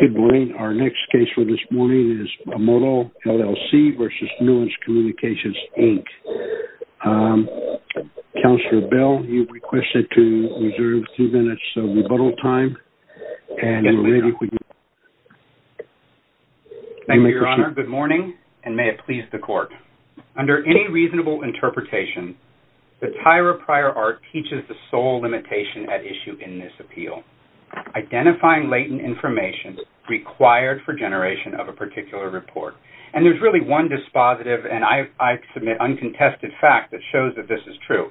Good morning. Our next case for this morning is Modal LLC v. Nuance Communications, Inc. Counselor Bell, you've requested to reserve two minutes of rebuttal time. Thank you, Your Honor. Good morning and may it please the court. Under any reasonable interpretation, the Tyra Pryor Art teaches the sole limitation at required for generation of a particular report. And there's really one dispositive and I submit uncontested fact that shows that this is true.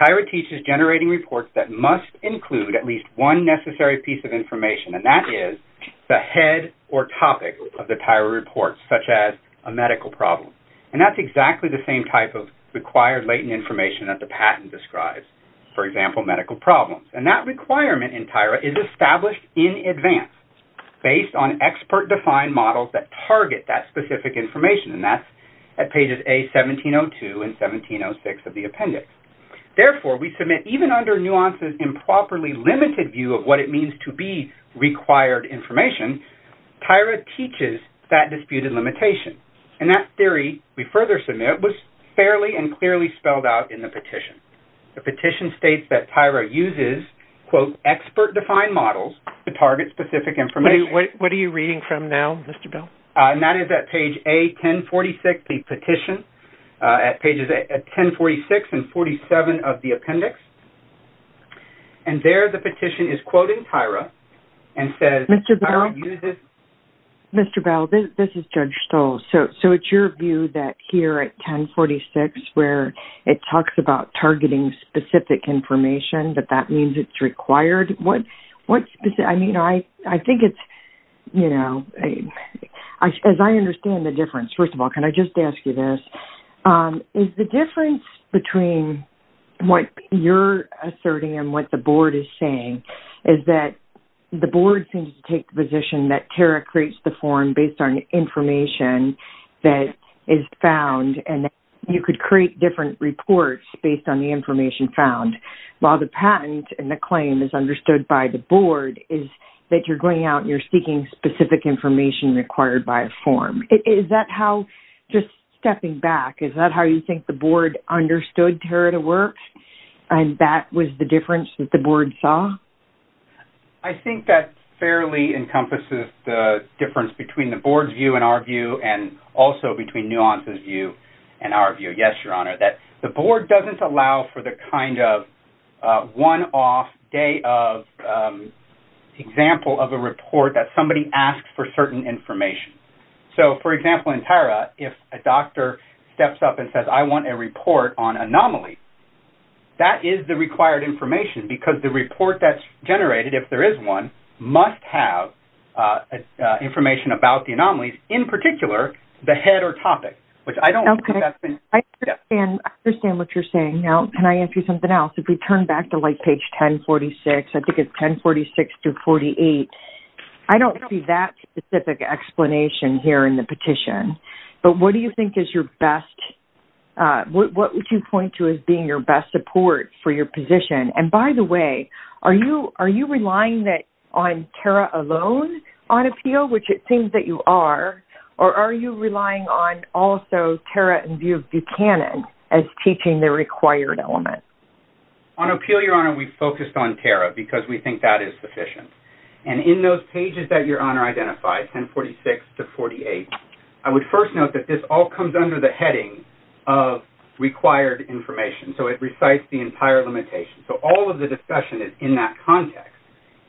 Tyra teaches generating reports that must include at least one necessary piece of information and that is the head or topic of the Tyra report, such as a medical problem. And that's exactly the same type of required latent information that the patent describes, for example, medical problems. And that requirement in Tyra is based on expert-defined models that target that specific information. And that's at pages A1702 and 1706 of the appendix. Therefore, we submit even under nuances improperly limited view of what it means to be required information, Tyra teaches that disputed limitation. And that theory we further submit was fairly and clearly spelled out in the petition. The petition states that Tyra uses, quote, expert-defined models to target specific information. What are you reading from now, Mr. Bell? And that is at page A1046, the petition, at pages 1046 and 47 of the appendix. And there the petition is quoting Tyra and says, Mr. Bell, Mr. Bell, this is Judge Stoll. So it's your view that here at 1046 where it talks about targeting specific information, that that means it's required. What specific, I mean, I think it's, you know, as I understand the difference, first of all, can I just ask you this? Is the difference between what you're asserting and what the board is saying is that the board seems to take the position that Tyra creates the form based on information that is create different reports based on the information found, while the patent and the claim is understood by the board is that you're going out and you're seeking specific information required by a form. Is that how, just stepping back, is that how you think the board understood Tyra to work and that was the difference that the board saw? I think that fairly encompasses the difference between the board's view and our view and also between Nuance's view and our view. Yes, Your Honor, that the board doesn't allow for the kind of one-off day of example of a report that somebody asks for certain information. So, for example, in Tyra, if a doctor steps up and says, I want a report on anomaly, that is the required information because the report that's about the anomalies, in particular, the head or topic. I understand what you're saying. Now, can I ask you something else? If we turn back to like page 1046, I think it's 1046 through 48. I don't see that specific explanation here in the petition, but what do you think is your best, what would you point to as being your best support for your position? And by the way, are you relying on Tyra alone on appeal, which it seems that you are, or are you relying on also Tyra in view of Buchanan as teaching the required element? On appeal, Your Honor, we focused on Tyra because we think that is sufficient. And in those pages that Your Honor identified, 1046 to 48, I would first note that this all comes under the heading of required information. So, it recites the entire limitation. So, all of the discussion is in that context.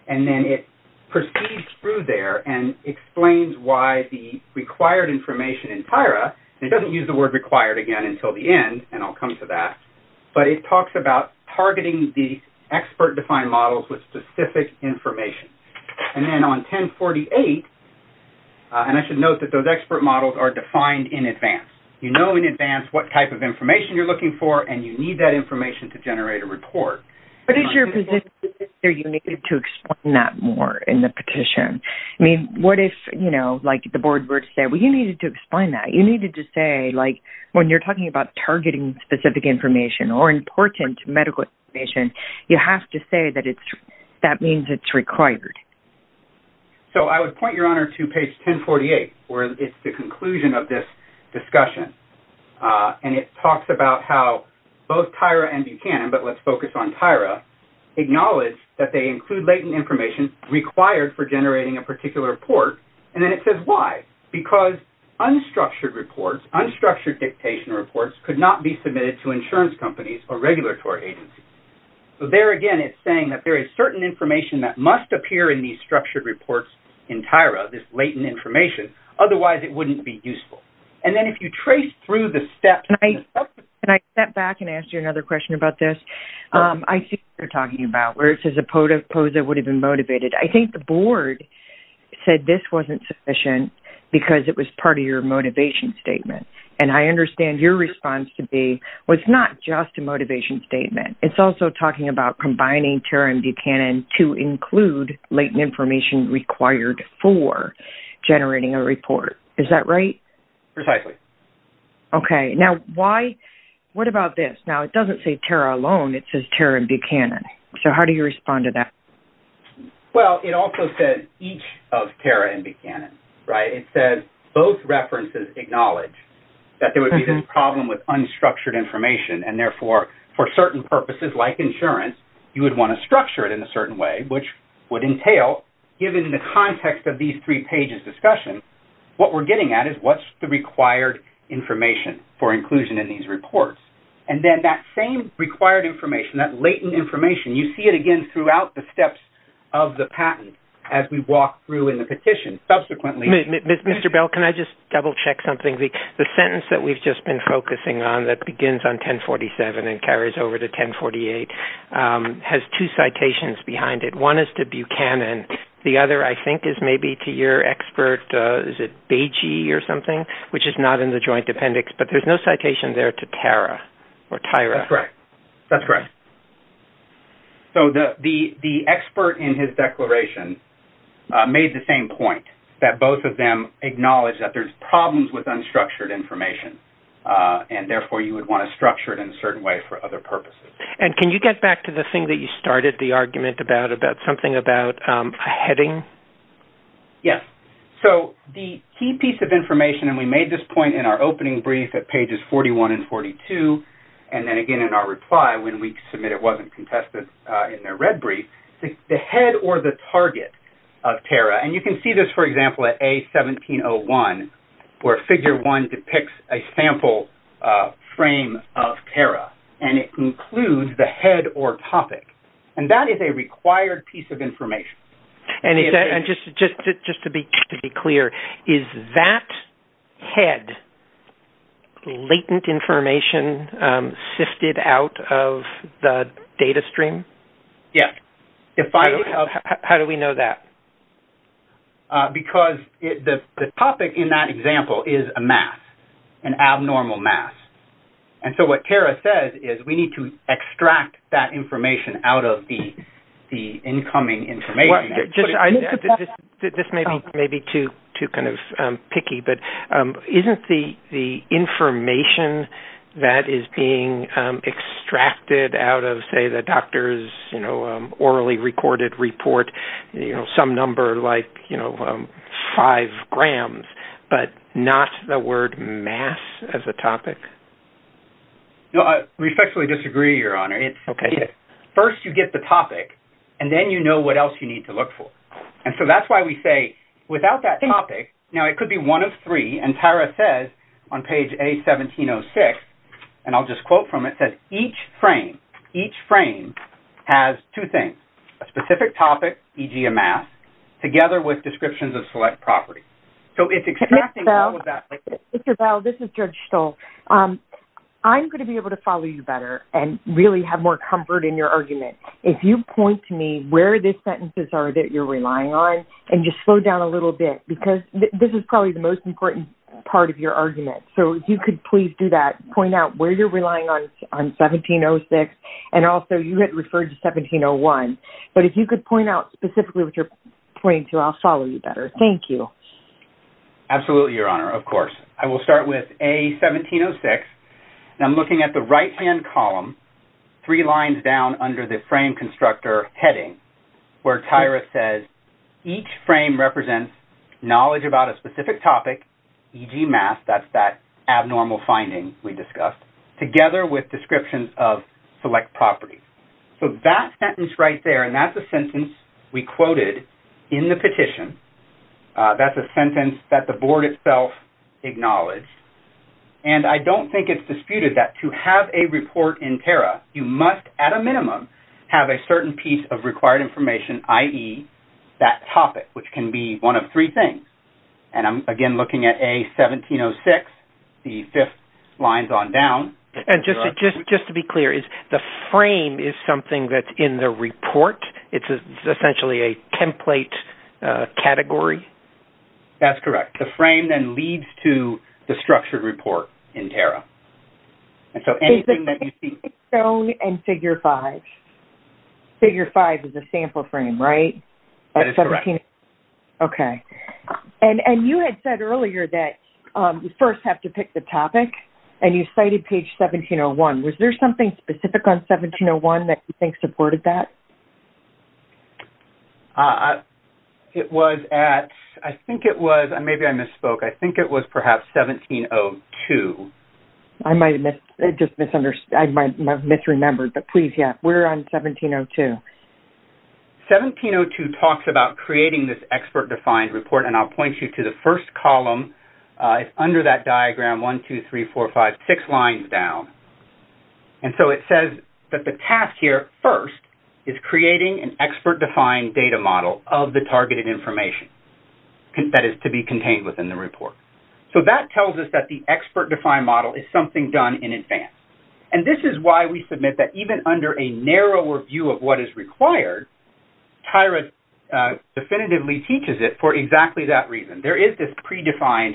And then it proceeds through there and explains why the required information in Tyra, and it doesn't use the word required again until the end, and I'll come to that. But it talks about targeting the expert-defined models with specific information. And then on 1048, and I should note that those expert models are defined in advance. You know in advance what type of information you're looking for, and you need that information to generate a report. But is your position that you needed to explain that more in the petition? I mean, what if, you know, like the board were to say, well, you needed to explain that. You needed to say, like, when you're talking about targeting specific information or important medical information, you have to say that it's-that means it's required. So, I would point, Your Honor, to page 1048, where it's the conclusion of this discussion. And it talks about how both Tyra and Buchanan, but let's focus on Tyra, acknowledge that they include latent information required for generating a particular report. And then it says why? Because unstructured reports, unstructured dictation reports could not be submitted to insurance companies or regulatory agencies. So, there again, it's saying that there is certain information that must appear in these structured reports in Tyra, this latent information. Otherwise, it wouldn't be useful. And then if you trace through the steps- Can I step back and ask you another question about this? I see what you're talking about, where it says a POSA would have been motivated. I think the board said this wasn't sufficient because it was part of your motivation statement. And I understand your response to be, well, it's not just a motivation statement. It's also talking about combining Tyra and Buchanan to include latent information required for generating a report. Is that right? Precisely. Okay. Now, why- What about this? Now, it doesn't say Tyra alone. It says Tyra and Buchanan. So, how do you respond to that? Well, it also says each of Tyra and Buchanan, right? It says both references acknowledge that there would be this problem with unstructured information. And therefore, for certain purposes like insurance, you would want to structure it in a certain way, which would entail, given the context of these three pages discussion, what we're getting at is what's the required information for inclusion in these reports. And then that same required information, that latent information, you see it again throughout the steps of the patent as we walk through in the petition. Subsequently- Mr. Bell, can I just double-check something? The sentence that we've just been focusing on begins on 1047 and carries over to 1048 has two citations behind it. One is to Buchanan. The other, I think, is maybe to your expert, is it Beji or something, which is not in the joint appendix. But there's no citation there to Tyra. That's correct. That's correct. So, the expert in his declaration made the same point, that both of them acknowledge that there's problems with unstructured information. And therefore, you would want to structure it in a certain way for other purposes. And can you get back to the thing that you started the argument about, about something about a heading? Yes. So, the key piece of information, and we made this point in our opening brief at pages 41 and 42, and then again in our reply when we submit it wasn't contested in their red brief, the head or the target of Tara. And you can see this, for example, at A1701, where figure one depicts a sample frame of Tara, and it includes the head or topic. And that is a required piece of information. And just to be clear, is that head latent information sifted out of the data stream? Yes. How do we know that? Because the topic in that example is a mass, an abnormal mass. And so, what Tara says is, we need to extract that information out of the incoming information. Just, this may be too kind of picky, but isn't the information that is being extracted out of, say, the doctor's, you know, orally recorded report, you know, some number like, you know, five grams, but not the word mass as a topic? No, I respectfully disagree, Your Honor. First, you get the topic, and then you know what else you need to look for. And so, that's why we say, without that topic, now it could be one of three, and Tara says on page A1706, and I'll just quote from it, says, each frame has two things, a specific topic, e.g. a mass, together with descriptions of select property. So, it's extracting all of that. Mr. Bell, this is Judge Stoll. I'm going to be able to follow you better and really more comfort in your argument. If you point to me where the sentences are that you're relying on, and just slow down a little bit, because this is probably the most important part of your argument. So, if you could please do that, point out where you're relying on 1706, and also, you had referred to 1701. But if you could point out specifically what you're pointing to, I'll follow you better. Thank you. Absolutely, Your Honor, of course. I will start with A1706, and I'm looking at the right-hand column, three lines down under the frame constructor heading, where Tara says, each frame represents knowledge about a specific topic, e.g. mass, that's that abnormal finding we discussed, together with descriptions of select property. So, that sentence right there, and that's a sentence we quoted in the petition, that's a disputed that to have a report in Tara, you must, at a minimum, have a certain piece of required information, i.e., that topic, which can be one of three things. And I'm, again, looking at A1706, the fifth lines on down. And just to be clear, is the frame is something that's in the report? It's essentially a template category? That's correct. The frame then leads to the structured report in Tara. And so, anything that you see- Is it Stone and Figure 5? Figure 5 is a sample frame, right? That is correct. Okay. And you had said earlier that you first have to pick the topic, and you cited page 1701. Was there something specific on 1701 that you think supported that? It was at, I think it was, maybe I misspoke. I think it was, perhaps, 1702. I might have misremembered, but please, yes. We're on 1702. 1702 talks about creating this expert-defined report, and I'll point you to the first column. It's under that diagram, 1, 2, 3, 4, 5, 6 lines down. And so, it says that the task here first is creating an expert-defined data model of the report. So, that tells us that the expert-defined model is something done in advance. And this is why we submit that even under a narrower view of what is required, Tyra definitively teaches it for exactly that reason. There is this predefined,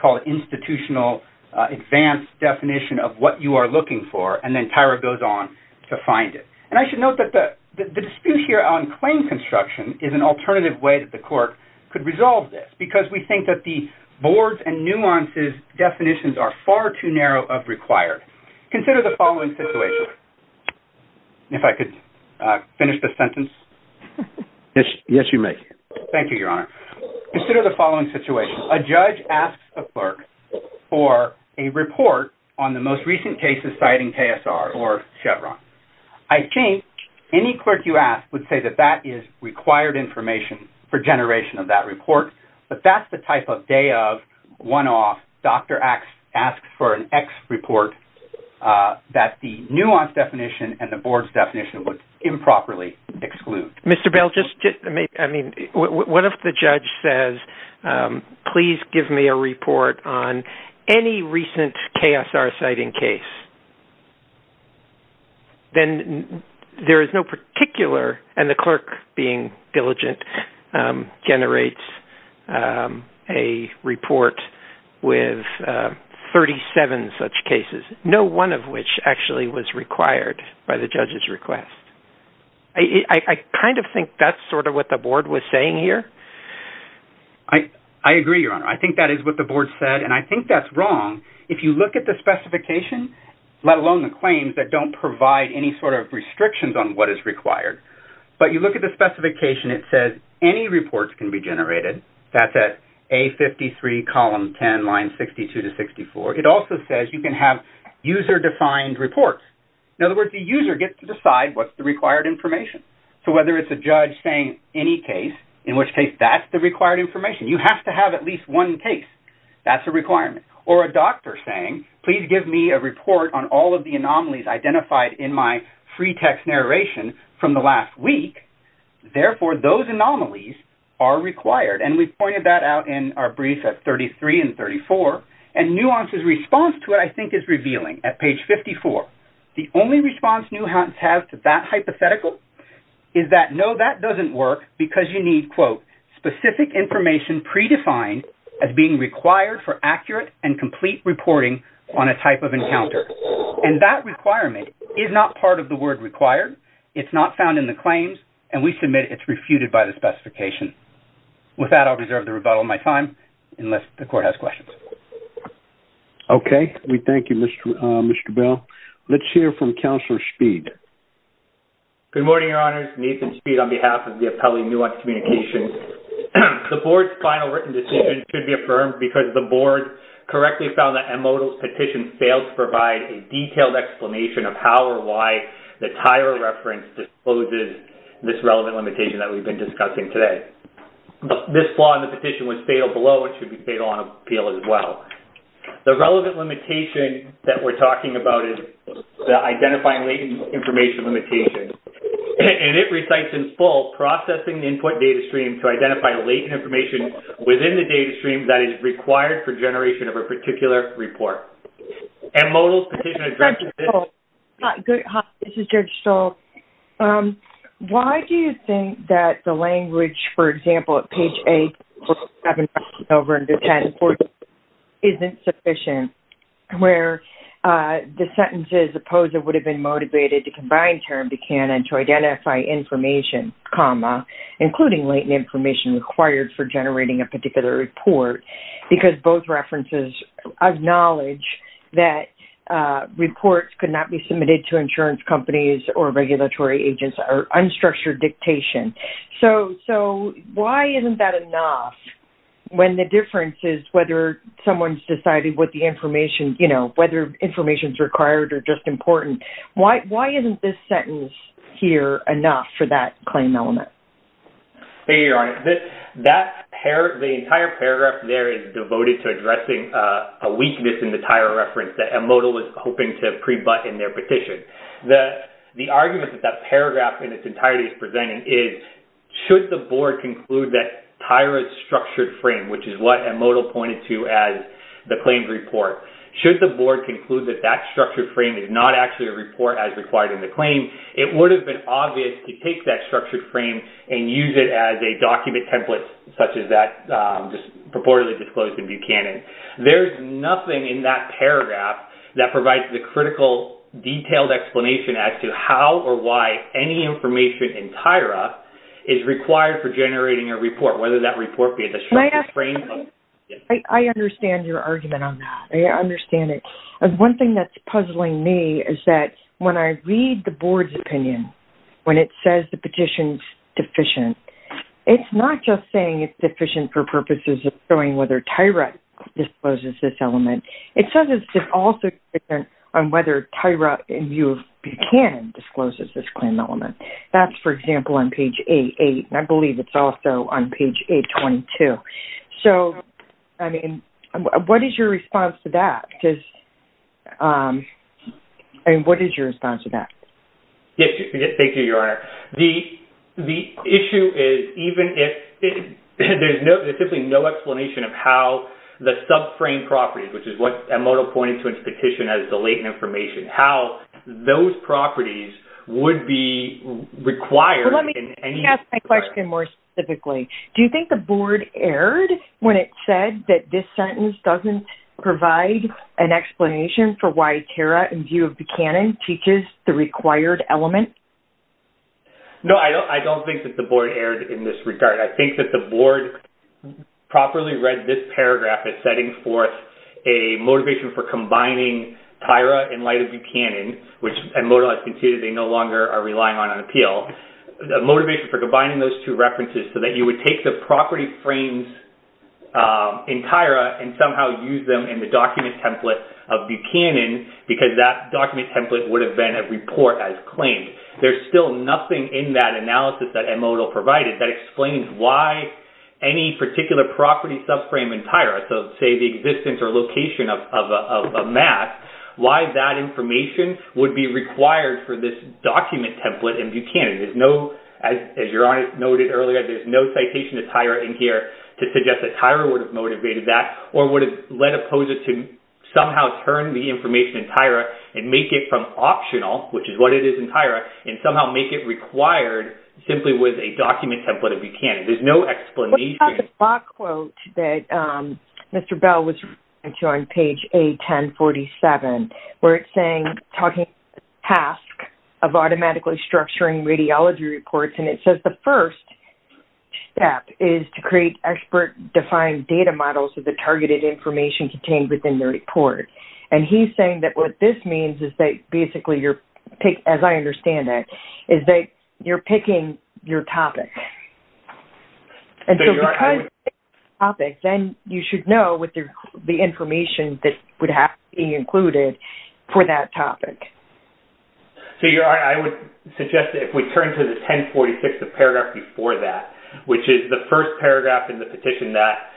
called institutional advanced definition of what you are looking for, and then Tyra goes on to find it. And I should note that the dispute here on claim construction is an alternative way that the court could resolve this, because we think that the boards and nuances definitions are far too narrow of required. Consider the following situation. If I could finish the sentence. Yes, you may. Thank you, Your Honor. Consider the following situation. A judge asks a clerk for a report on the most recent cases citing KSR or Chevron. I think any clerk you ask would say that that is required information for generation of that report, but that is the type of day-of, one-off, Dr. asks for an X report that the nuance definition and the board's definition would improperly exclude. Mr. Bell, what if the judge says, please give me a report on any recent KSR-citing case? Then there is no particular, and the clerk being diligent, generates a report with 37 such cases, no one of which actually was required by the judge's request. I kind of think that's sort of what the board was saying here. I agree, Your Honor. I think that is what the board said, and I think that's wrong. If you look at the specification, let alone the claims that don't provide any sort of restrictions on what is required, but you look at the specification, it says any reports can be generated. That's at A53, column 10, line 62 to 64. It also says you can have user-defined reports. In other words, the user gets to decide what's the required information. So whether it's a judge saying any case, in which case that's the required information. You have to have at least one case. That's a requirement. Or a doctor saying, please give me a report on all of the anomalies identified in my free text narration from the last week. Therefore, those anomalies are required. And we pointed that out in our brief at 33 and 34. And Nuance's response to it, I think, is revealing at page 54. The only response Nuance has to that hypothetical is that, no, that doesn't work because you need, quote, specific information predefined as being required for accurate and complete reporting on a type of encounter. And that requirement is not part of the word required. It's not found in the claims, and we submit it's refuted by the specification. With that, I'll reserve the rebuttal of my time, unless the court has questions. Okay. We thank you, Mr. Bell. Let's hear from Counselor Speed. Good morning, Your Honors. Nathan Speed on behalf of the Appellee Nuance Communications. The Board's final written decision should be affirmed because the Board correctly found that Emodal's petition failed to provide a detailed explanation of how or why the TIRA reference disposes this relevant limitation that we've been discussing today. This flaw in the petition was fatal below. It should be fatal on appeal as well. The relevant limitation that we're talking about is the identifying latent information limitation, and it recites in full, processing the input data stream to identify latent information within the data stream that is required for generation of a particular report. Emodal's petition addresses this- Judge Stoll, this is Judge Stoll. Why do you think that the language, for example, at page 8, 7, and over into 10, and 14 is insufficient, where the sentence is, opposed would have been motivated to combine term to cannon to identify information, comma, including latent information required for generating a particular report, because both references acknowledge that reports could not be submitted to insurance companies or regulatory agents or unstructured dictation. So, why isn't that enough, when the difference is whether someone's decided what the information, you know, whether information's required or just important? Why isn't this sentence here enough for that claim element? Hey, your honor, the entire paragraph there is devoted to addressing a weakness in the Tyra reference that Emodal was hoping to address. The argument that that paragraph in its entirety is presenting is, should the board conclude that Tyra's structured frame, which is what Emodal pointed to as the claimed report, should the board conclude that that structured frame is not actually a report as required in the claim, it would have been obvious to take that structured frame and use it as a document template, such as that just purportedly disclosed in Buchanan. There's nothing in that paragraph that provides the critical detailed explanation as to how or why any information in Tyra is required for generating a report, whether that report be a structured frame. I understand your argument on that. I understand it. One thing that's puzzling me is that when I read the board's opinion, when it says the petition's deficient, it's not just saying it's deficient for purposes of showing whether Tyra discloses this element. It says it's also deficient on whether Tyra, in view of Buchanan, discloses this claim element. That's, for example, on page 88, and I believe it's also on page 822. So, I mean, what is your response to that? Because, I mean, what is your response to that? Yes, thank you, Your Honor. The issue is, even if there's no, there's simply no explanation of how the sub-frame properties, which is what Emoto pointed to in his petition as the latent information, how those properties would be required in any- Let me ask my question more specifically. Do you think the board erred when it said that this sentence doesn't provide an explanation for why Tyra, in view of Buchanan, teaches the required element? No, I don't think that the board erred in this regard. I think that the board properly read this paragraph as setting forth a motivation for combining Tyra, in light of Buchanan, which Emoto has conceded they no longer are relying on on appeal, motivation for combining those two references so that you would take the property frames in Tyra and somehow use them in the document template of Buchanan because that document template would have been a report as claimed. There's still nothing in that analysis that explains why any particular property sub-frame in Tyra, so say the existence or location of a map, why that information would be required for this document template in Buchanan. There's no, as Your Honor noted earlier, there's no citation of Tyra in here to suggest that Tyra would have motivated that or would have led opposers to somehow turn the information in Tyra and make it from optional, which is what it is in Tyra, and somehow make it required simply with a document template of Buchanan. There's no explanation. What about the Bach quote that Mr. Bell was referring to on page A1047, where it's saying, talking about the task of automatically structuring radiology reports, and it says the first step is to create expert-defined data models of the targeted information contained within the report, and he's saying that what this means is that, basically, as I understand it, is that you're picking your topic. And so, because it's your topic, then you should know what the information that would have to be included for that topic. So, Your Honor, I would suggest that if we turn to the 1046, the paragraph before that, which is the first paragraph in the petition that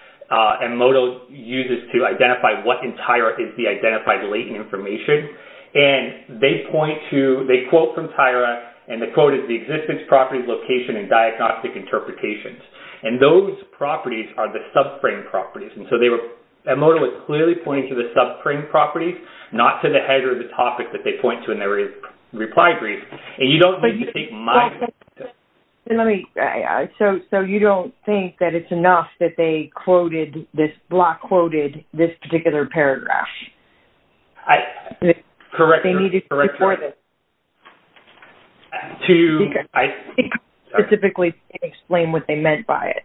MMODO uses to identify what in Tyra is the identified latent information, and they quote from Tyra, and the quote is, the existence, properties, location, and diagnostic interpretations, and those properties are the subframe properties. And so, MMODO is clearly pointing to the subframe properties, not to the header of the topic that they point to in their reply brief, and you don't need to take my… Let me… So, you don't think that it's enough that they quoted, this block quoted, this particular paragraph? Correct, Your Honor. They need to explore this? To… Specifically explain what they meant by it.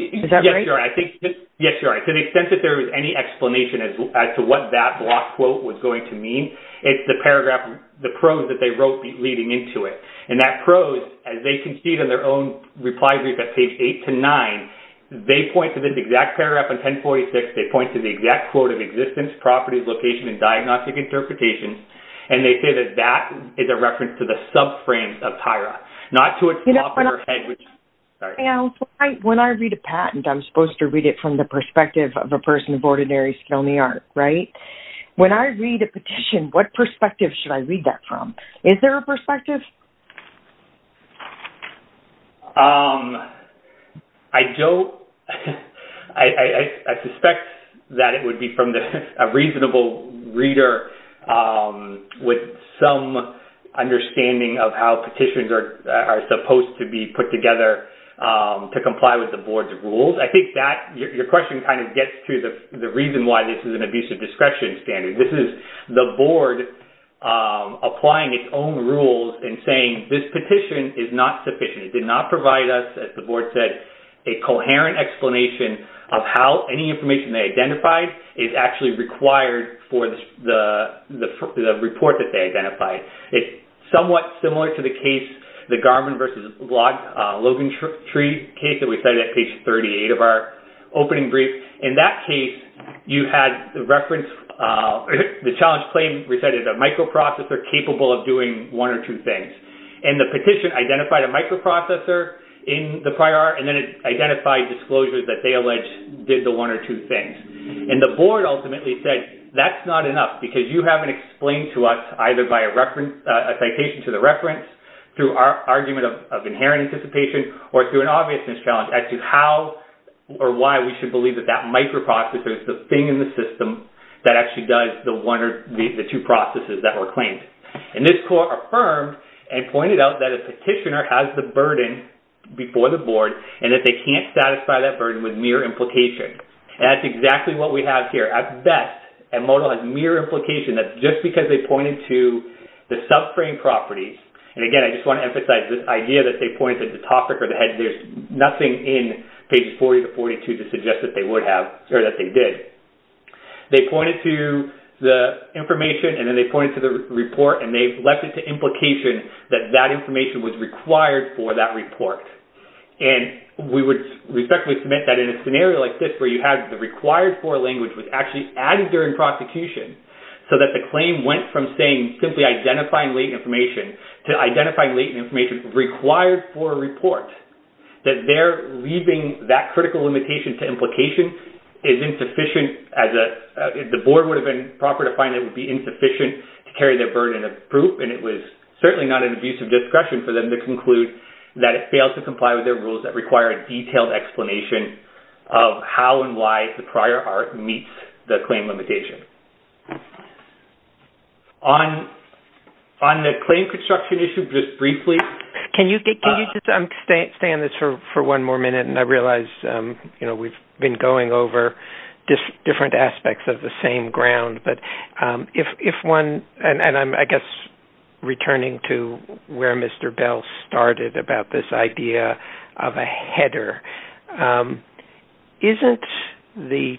Is that right? Yes, Your Honor. I think… Yes, Your Honor. To the extent that there was any explanation as to what that block quote was going to mean, it's the paragraph, the prose that they wrote leading into it, and that prose, as they can see it in their own reply brief at page 8 to 9, they point to this exact paragraph in 1046, they point to the exact quote of existence, properties, location, and diagnostic interpretations, and they say that that is a reference to the subframe of Tyra, not to a… You know, when I read a patent, I'm supposed to read it from the perspective of a person of ordinary skill in the art, right? When I read a petition, what perspective should I read that from? Is there a perspective? I don't… I suspect that it would be from a reasonable reader with some understanding of how petitions are supposed to be put together to comply with the board's rules. I think that… Your question kind of gets to the reason why this is an abusive discretion standard. This is the board applying its own rules and saying this petition is not sufficient. It did not provide us, as the board said, a coherent explanation of how any information they identified is actually required for the report that they identified. It's somewhat similar to the case, the Garman versus Logan Tree case that we cited at page 38 of our opening brief. In that case, you had the reference… The challenge claim, we said, is a microprocessor capable of doing one or two things. And the petition identified a microprocessor in the prior art, and then it identified disclosures that they allege did the one or two things. And the board ultimately said, that's not enough, because you haven't explained to us, either by a reference… a citation to the reference, through our argument of inherent anticipation, or through an obviousness challenge as to how or why we should believe that that microprocessor is the thing in the system that actually does the one or the two processes that were claimed. And this court affirmed and pointed out that a petitioner has the burden before the board, and that they can't satisfy that burden with mere implication. And that's exactly what we have here. At best, a modalist mere implication that just because they pointed to the subframe properties… And again, I just suggest that they would have, or that they did. They pointed to the information, and then they pointed to the report, and they left it to implication that that information was required for that report. And we would respectfully submit that in a scenario like this, where you have the required for language was actually added during prosecution, so that the claim went from saying, simply identifying latent information, to identifying latent information required for a critical limitation to implication, is insufficient. The board would have been proper to find it would be insufficient to carry their burden of proof, and it was certainly not an abusive discretion for them to conclude that it failed to comply with their rules that require a detailed explanation of how and why the prior art meets the claim limitation. On the claim construction issue, just briefly… I'm staying on this for one more minute, and I realize we've been going over different aspects of the same ground. But if one… And I'm, I guess, returning to where Mr. Bell started about this idea of a header. Isn't the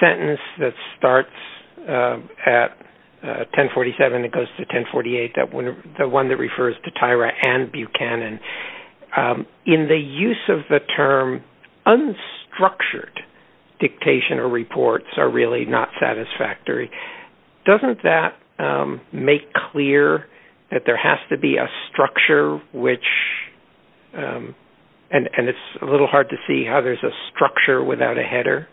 sentence that starts at 1047 and goes to 1048, the one that I'm referring to in the canon, in the use of the term, unstructured dictation or reports are really not satisfactory. Doesn't that make clear that there has to be a structure, which… And it's a little hard to see how there's a structure without a header.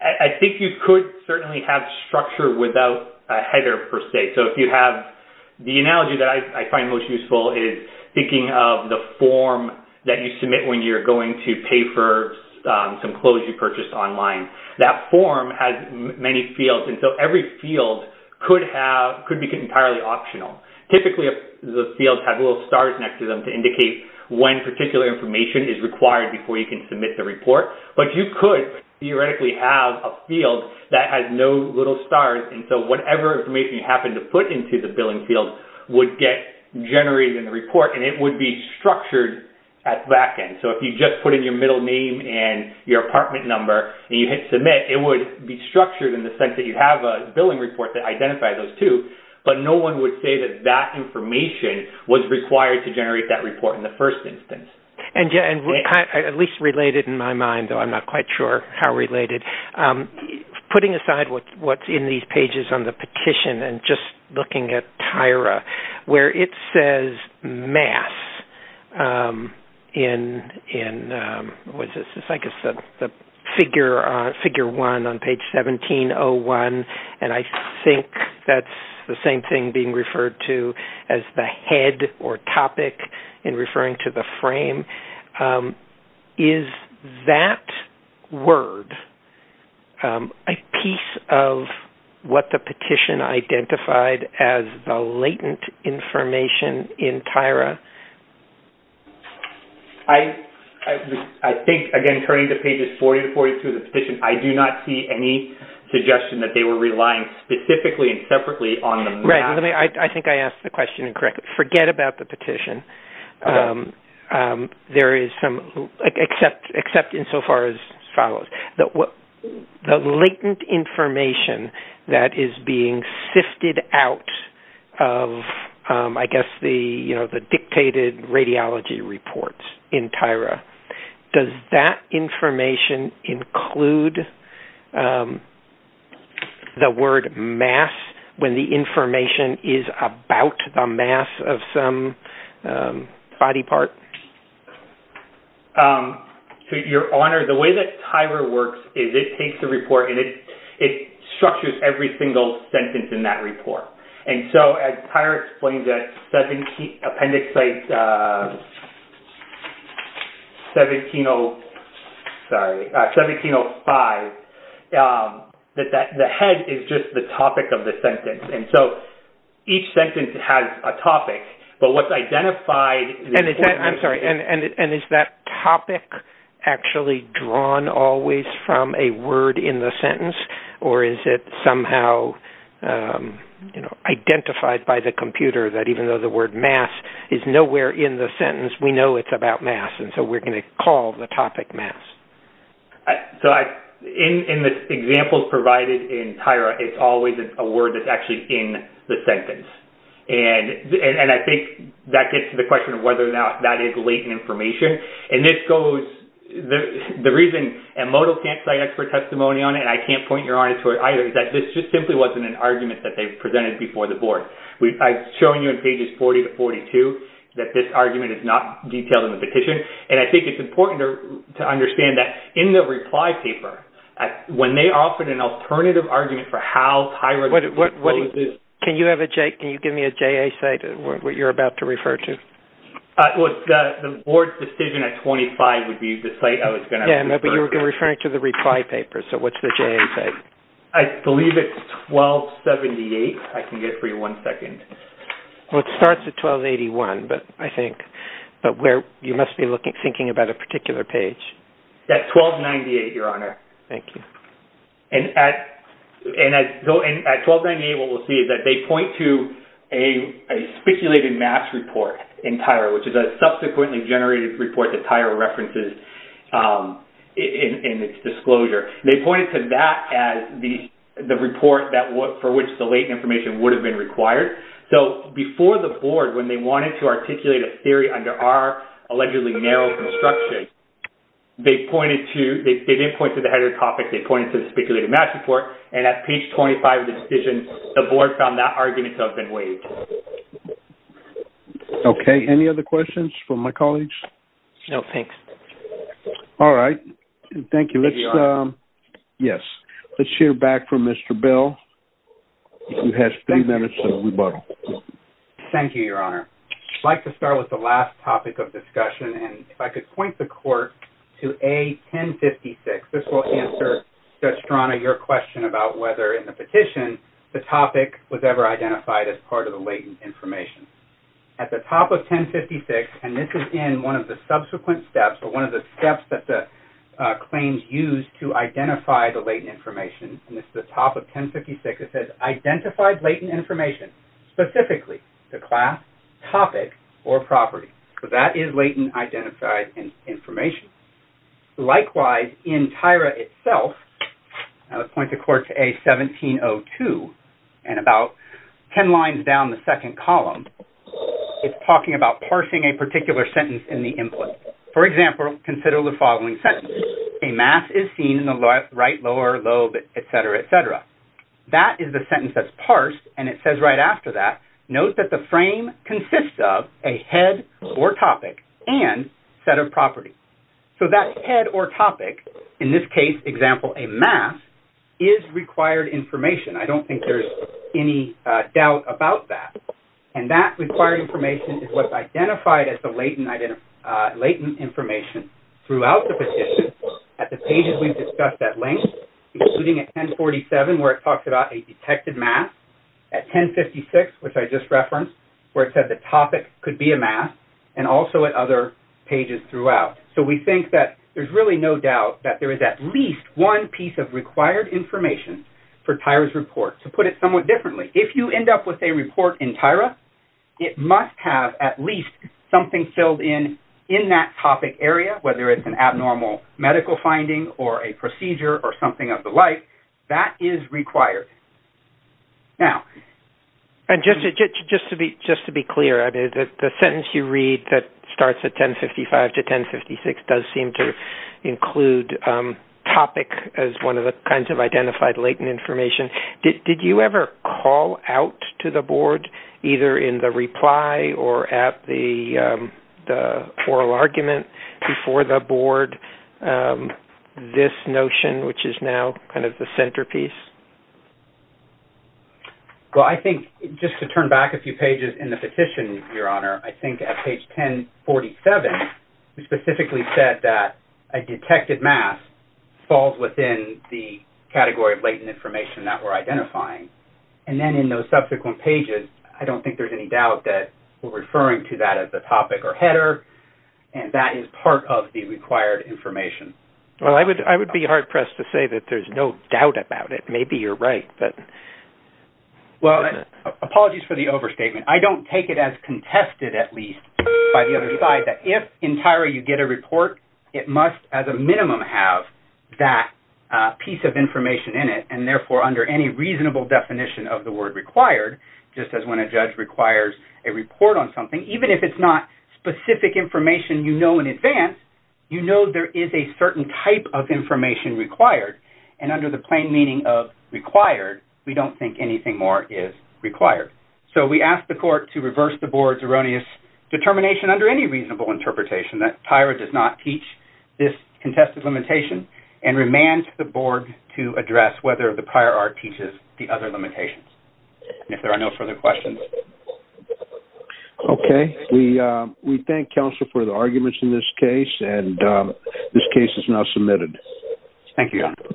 I think you could certainly have structure without a header, per se. So, if you have… The analogy that I find most useful is thinking of the form that you submit when you're going to pay for some clothes you purchased online. That form has many fields, and so every field could have… Could be entirely optional. Typically, the fields have little stars next to them to indicate when particular information is required before you can submit the report. But you could theoretically have a field that has no little stars, and so whatever information you happen to put into the billing field would get generated in the report, and it would be structured at the back end. So, if you just put in your middle name and your apartment number and you hit submit, it would be structured in the sense that you have a billing report that identifies those two, but no one would say that that information was required to generate that first instance. And at least related in my mind, though I'm not quite sure how related, putting aside what's in these pages on the petition and just looking at Tyra, where it says math in… What is this? I guess the figure one on page 1701, and I think that's the same thing referred to as the head or topic in referring to the frame. Is that word a piece of what the petition identified as the latent information in Tyra? I think, again, turning to pages 40 to 42 of the petition, I do not see any suggestion that they were relying specifically and separately on that. I think I asked the question incorrectly. Forget about the petition, except insofar as follows. The latent information that is being sifted out of, I guess, the dictated radiology reports in Tyra, does that information include the word mass when the information is about the mass of some body part? Your Honor, the way that Tyra works is it takes a report and it structures every single sentence in that report. And so, as Tyra explained, that 17 appendix site 1705, that the head is just the topic of the sentence. And so, each sentence has a topic, but what's identified… I'm sorry, and is that topic actually drawn always from a word in the sentence, or is it somehow identified by the computer that even though the word mass is about mass, and so we're going to call the topic mass? So, in the examples provided in Tyra, it's always a word that's actually in the sentence. And I think that gets to the question of whether or not that is latent information. And this goes… the reason… and modal can't cite expert testimony on it, and I can't point your Honor to it either, is that this just simply wasn't an argument that they presented before the board. I've shown you in pages 40 to 42 that this argument is not detailed in the petition, and I think it's important to understand that in the reply paper, when they offered an alternative argument for how Tyra… Can you have a… can you give me a JA site, what you're about to refer to? The board's decision at 25 would be the site I was going to… Yeah, but you were referring to the reply paper, so what's the JA site? I believe it's 1278. I can get it for you in one second. Well, it starts at 1281, but I think… but where… you must be looking… thinking about a particular page. That's 1298, Your Honor. Thank you. And at 1298, what we'll see is that they point to a speculated mass report in Tyra, which is a subsequently generated report that Tyra references in its disclosure. They pointed to that as the report that… for which the latent information would have been required. So, before the board, when they wanted to articulate a theory under our allegedly narrow construction, they pointed to… they didn't point to the header topic. They pointed to the speculated mass report, and at page 25 of the decision, the board found that argument to have been waived. Okay. Any other questions from my colleagues? No, thanks. All right. Thank you. Let's… Maybe you are. You have three minutes to rebuttal. Thank you, Your Honor. I'd like to start with the last topic of discussion, and if I could point the court to A-1056. This will answer, Judge Strana, your question about whether, in the petition, the topic was ever identified as part of the latent information. At the top of 1056, and this is in one of the subsequent steps, or one of the steps that the the latent information, and this is the top of 1056, it says, identified latent information, specifically the class, topic, or property. So, that is latent identified information. Likewise, in Tyra itself, and I'll point the court to A-1702, and about 10 lines down the second column, it's talking about parsing a particular sentence in the input. For example, consider the following sentence. A mass is seen in the right lower lobe, etc., etc. That is the sentence that's parsed, and it says right after that, note that the frame consists of a head or topic and set of properties. So, that head or topic, in this case, example, a mass, is required information. I don't think there's any doubt about that, and that required information is what's identified as the latent information throughout the petition at the pages we've discussed at length, including at 1047, where it talks about a detected mass, at 1056, which I just referenced, where it said the topic could be a mass, and also at other pages throughout. So, we think that there's really no doubt that there is at least one piece of required information for Tyra's report. To put it somewhat differently, if you end up with a report in Tyra, it must have at least something filled in in that topic area, whether it's an abnormal medical finding or a procedure or something of the like. That is required. Now- And just to be clear, the sentence you read that starts at 1055 to 1056 does seem to include topic as one of the kinds of identified latent information. Did you ever call out to the board, either in the reply or at the oral argument before the board, this notion, which is now kind of the centerpiece? Well, I think, just to turn back a few pages in the petition, Your Honor, I think at page 1047, we specifically said that a detected mass falls within the category of latent information that we're identifying. And then, in those subsequent pages, I don't think there's any doubt that we're referring to that as a topic or header, and that is part of the required information. Well, I would be hard-pressed to say that there's no doubt about it. Maybe you're right, but- Well, apologies for the overstatement. I don't take it as contested, at least, by the other side, that if entirely you get a report, it must, as a minimum, have that piece of information in it. And therefore, under any reasonable definition of the word required, just as when a judge requires a report on something, even if it's not specific information you know in advance, you know there is a certain type of information required. And under the plain meaning of required, we don't think anything more is required. So, we ask the court to reverse the board's erroneous determination under any reasonable interpretation that TIRA does not teach this contested limitation and remand the board to address whether the prior art teaches the other limitations. And if there are no further questions- Okay. We thank counsel for the arguments in this case, and this case is now submitted. Thank you, Your Honor.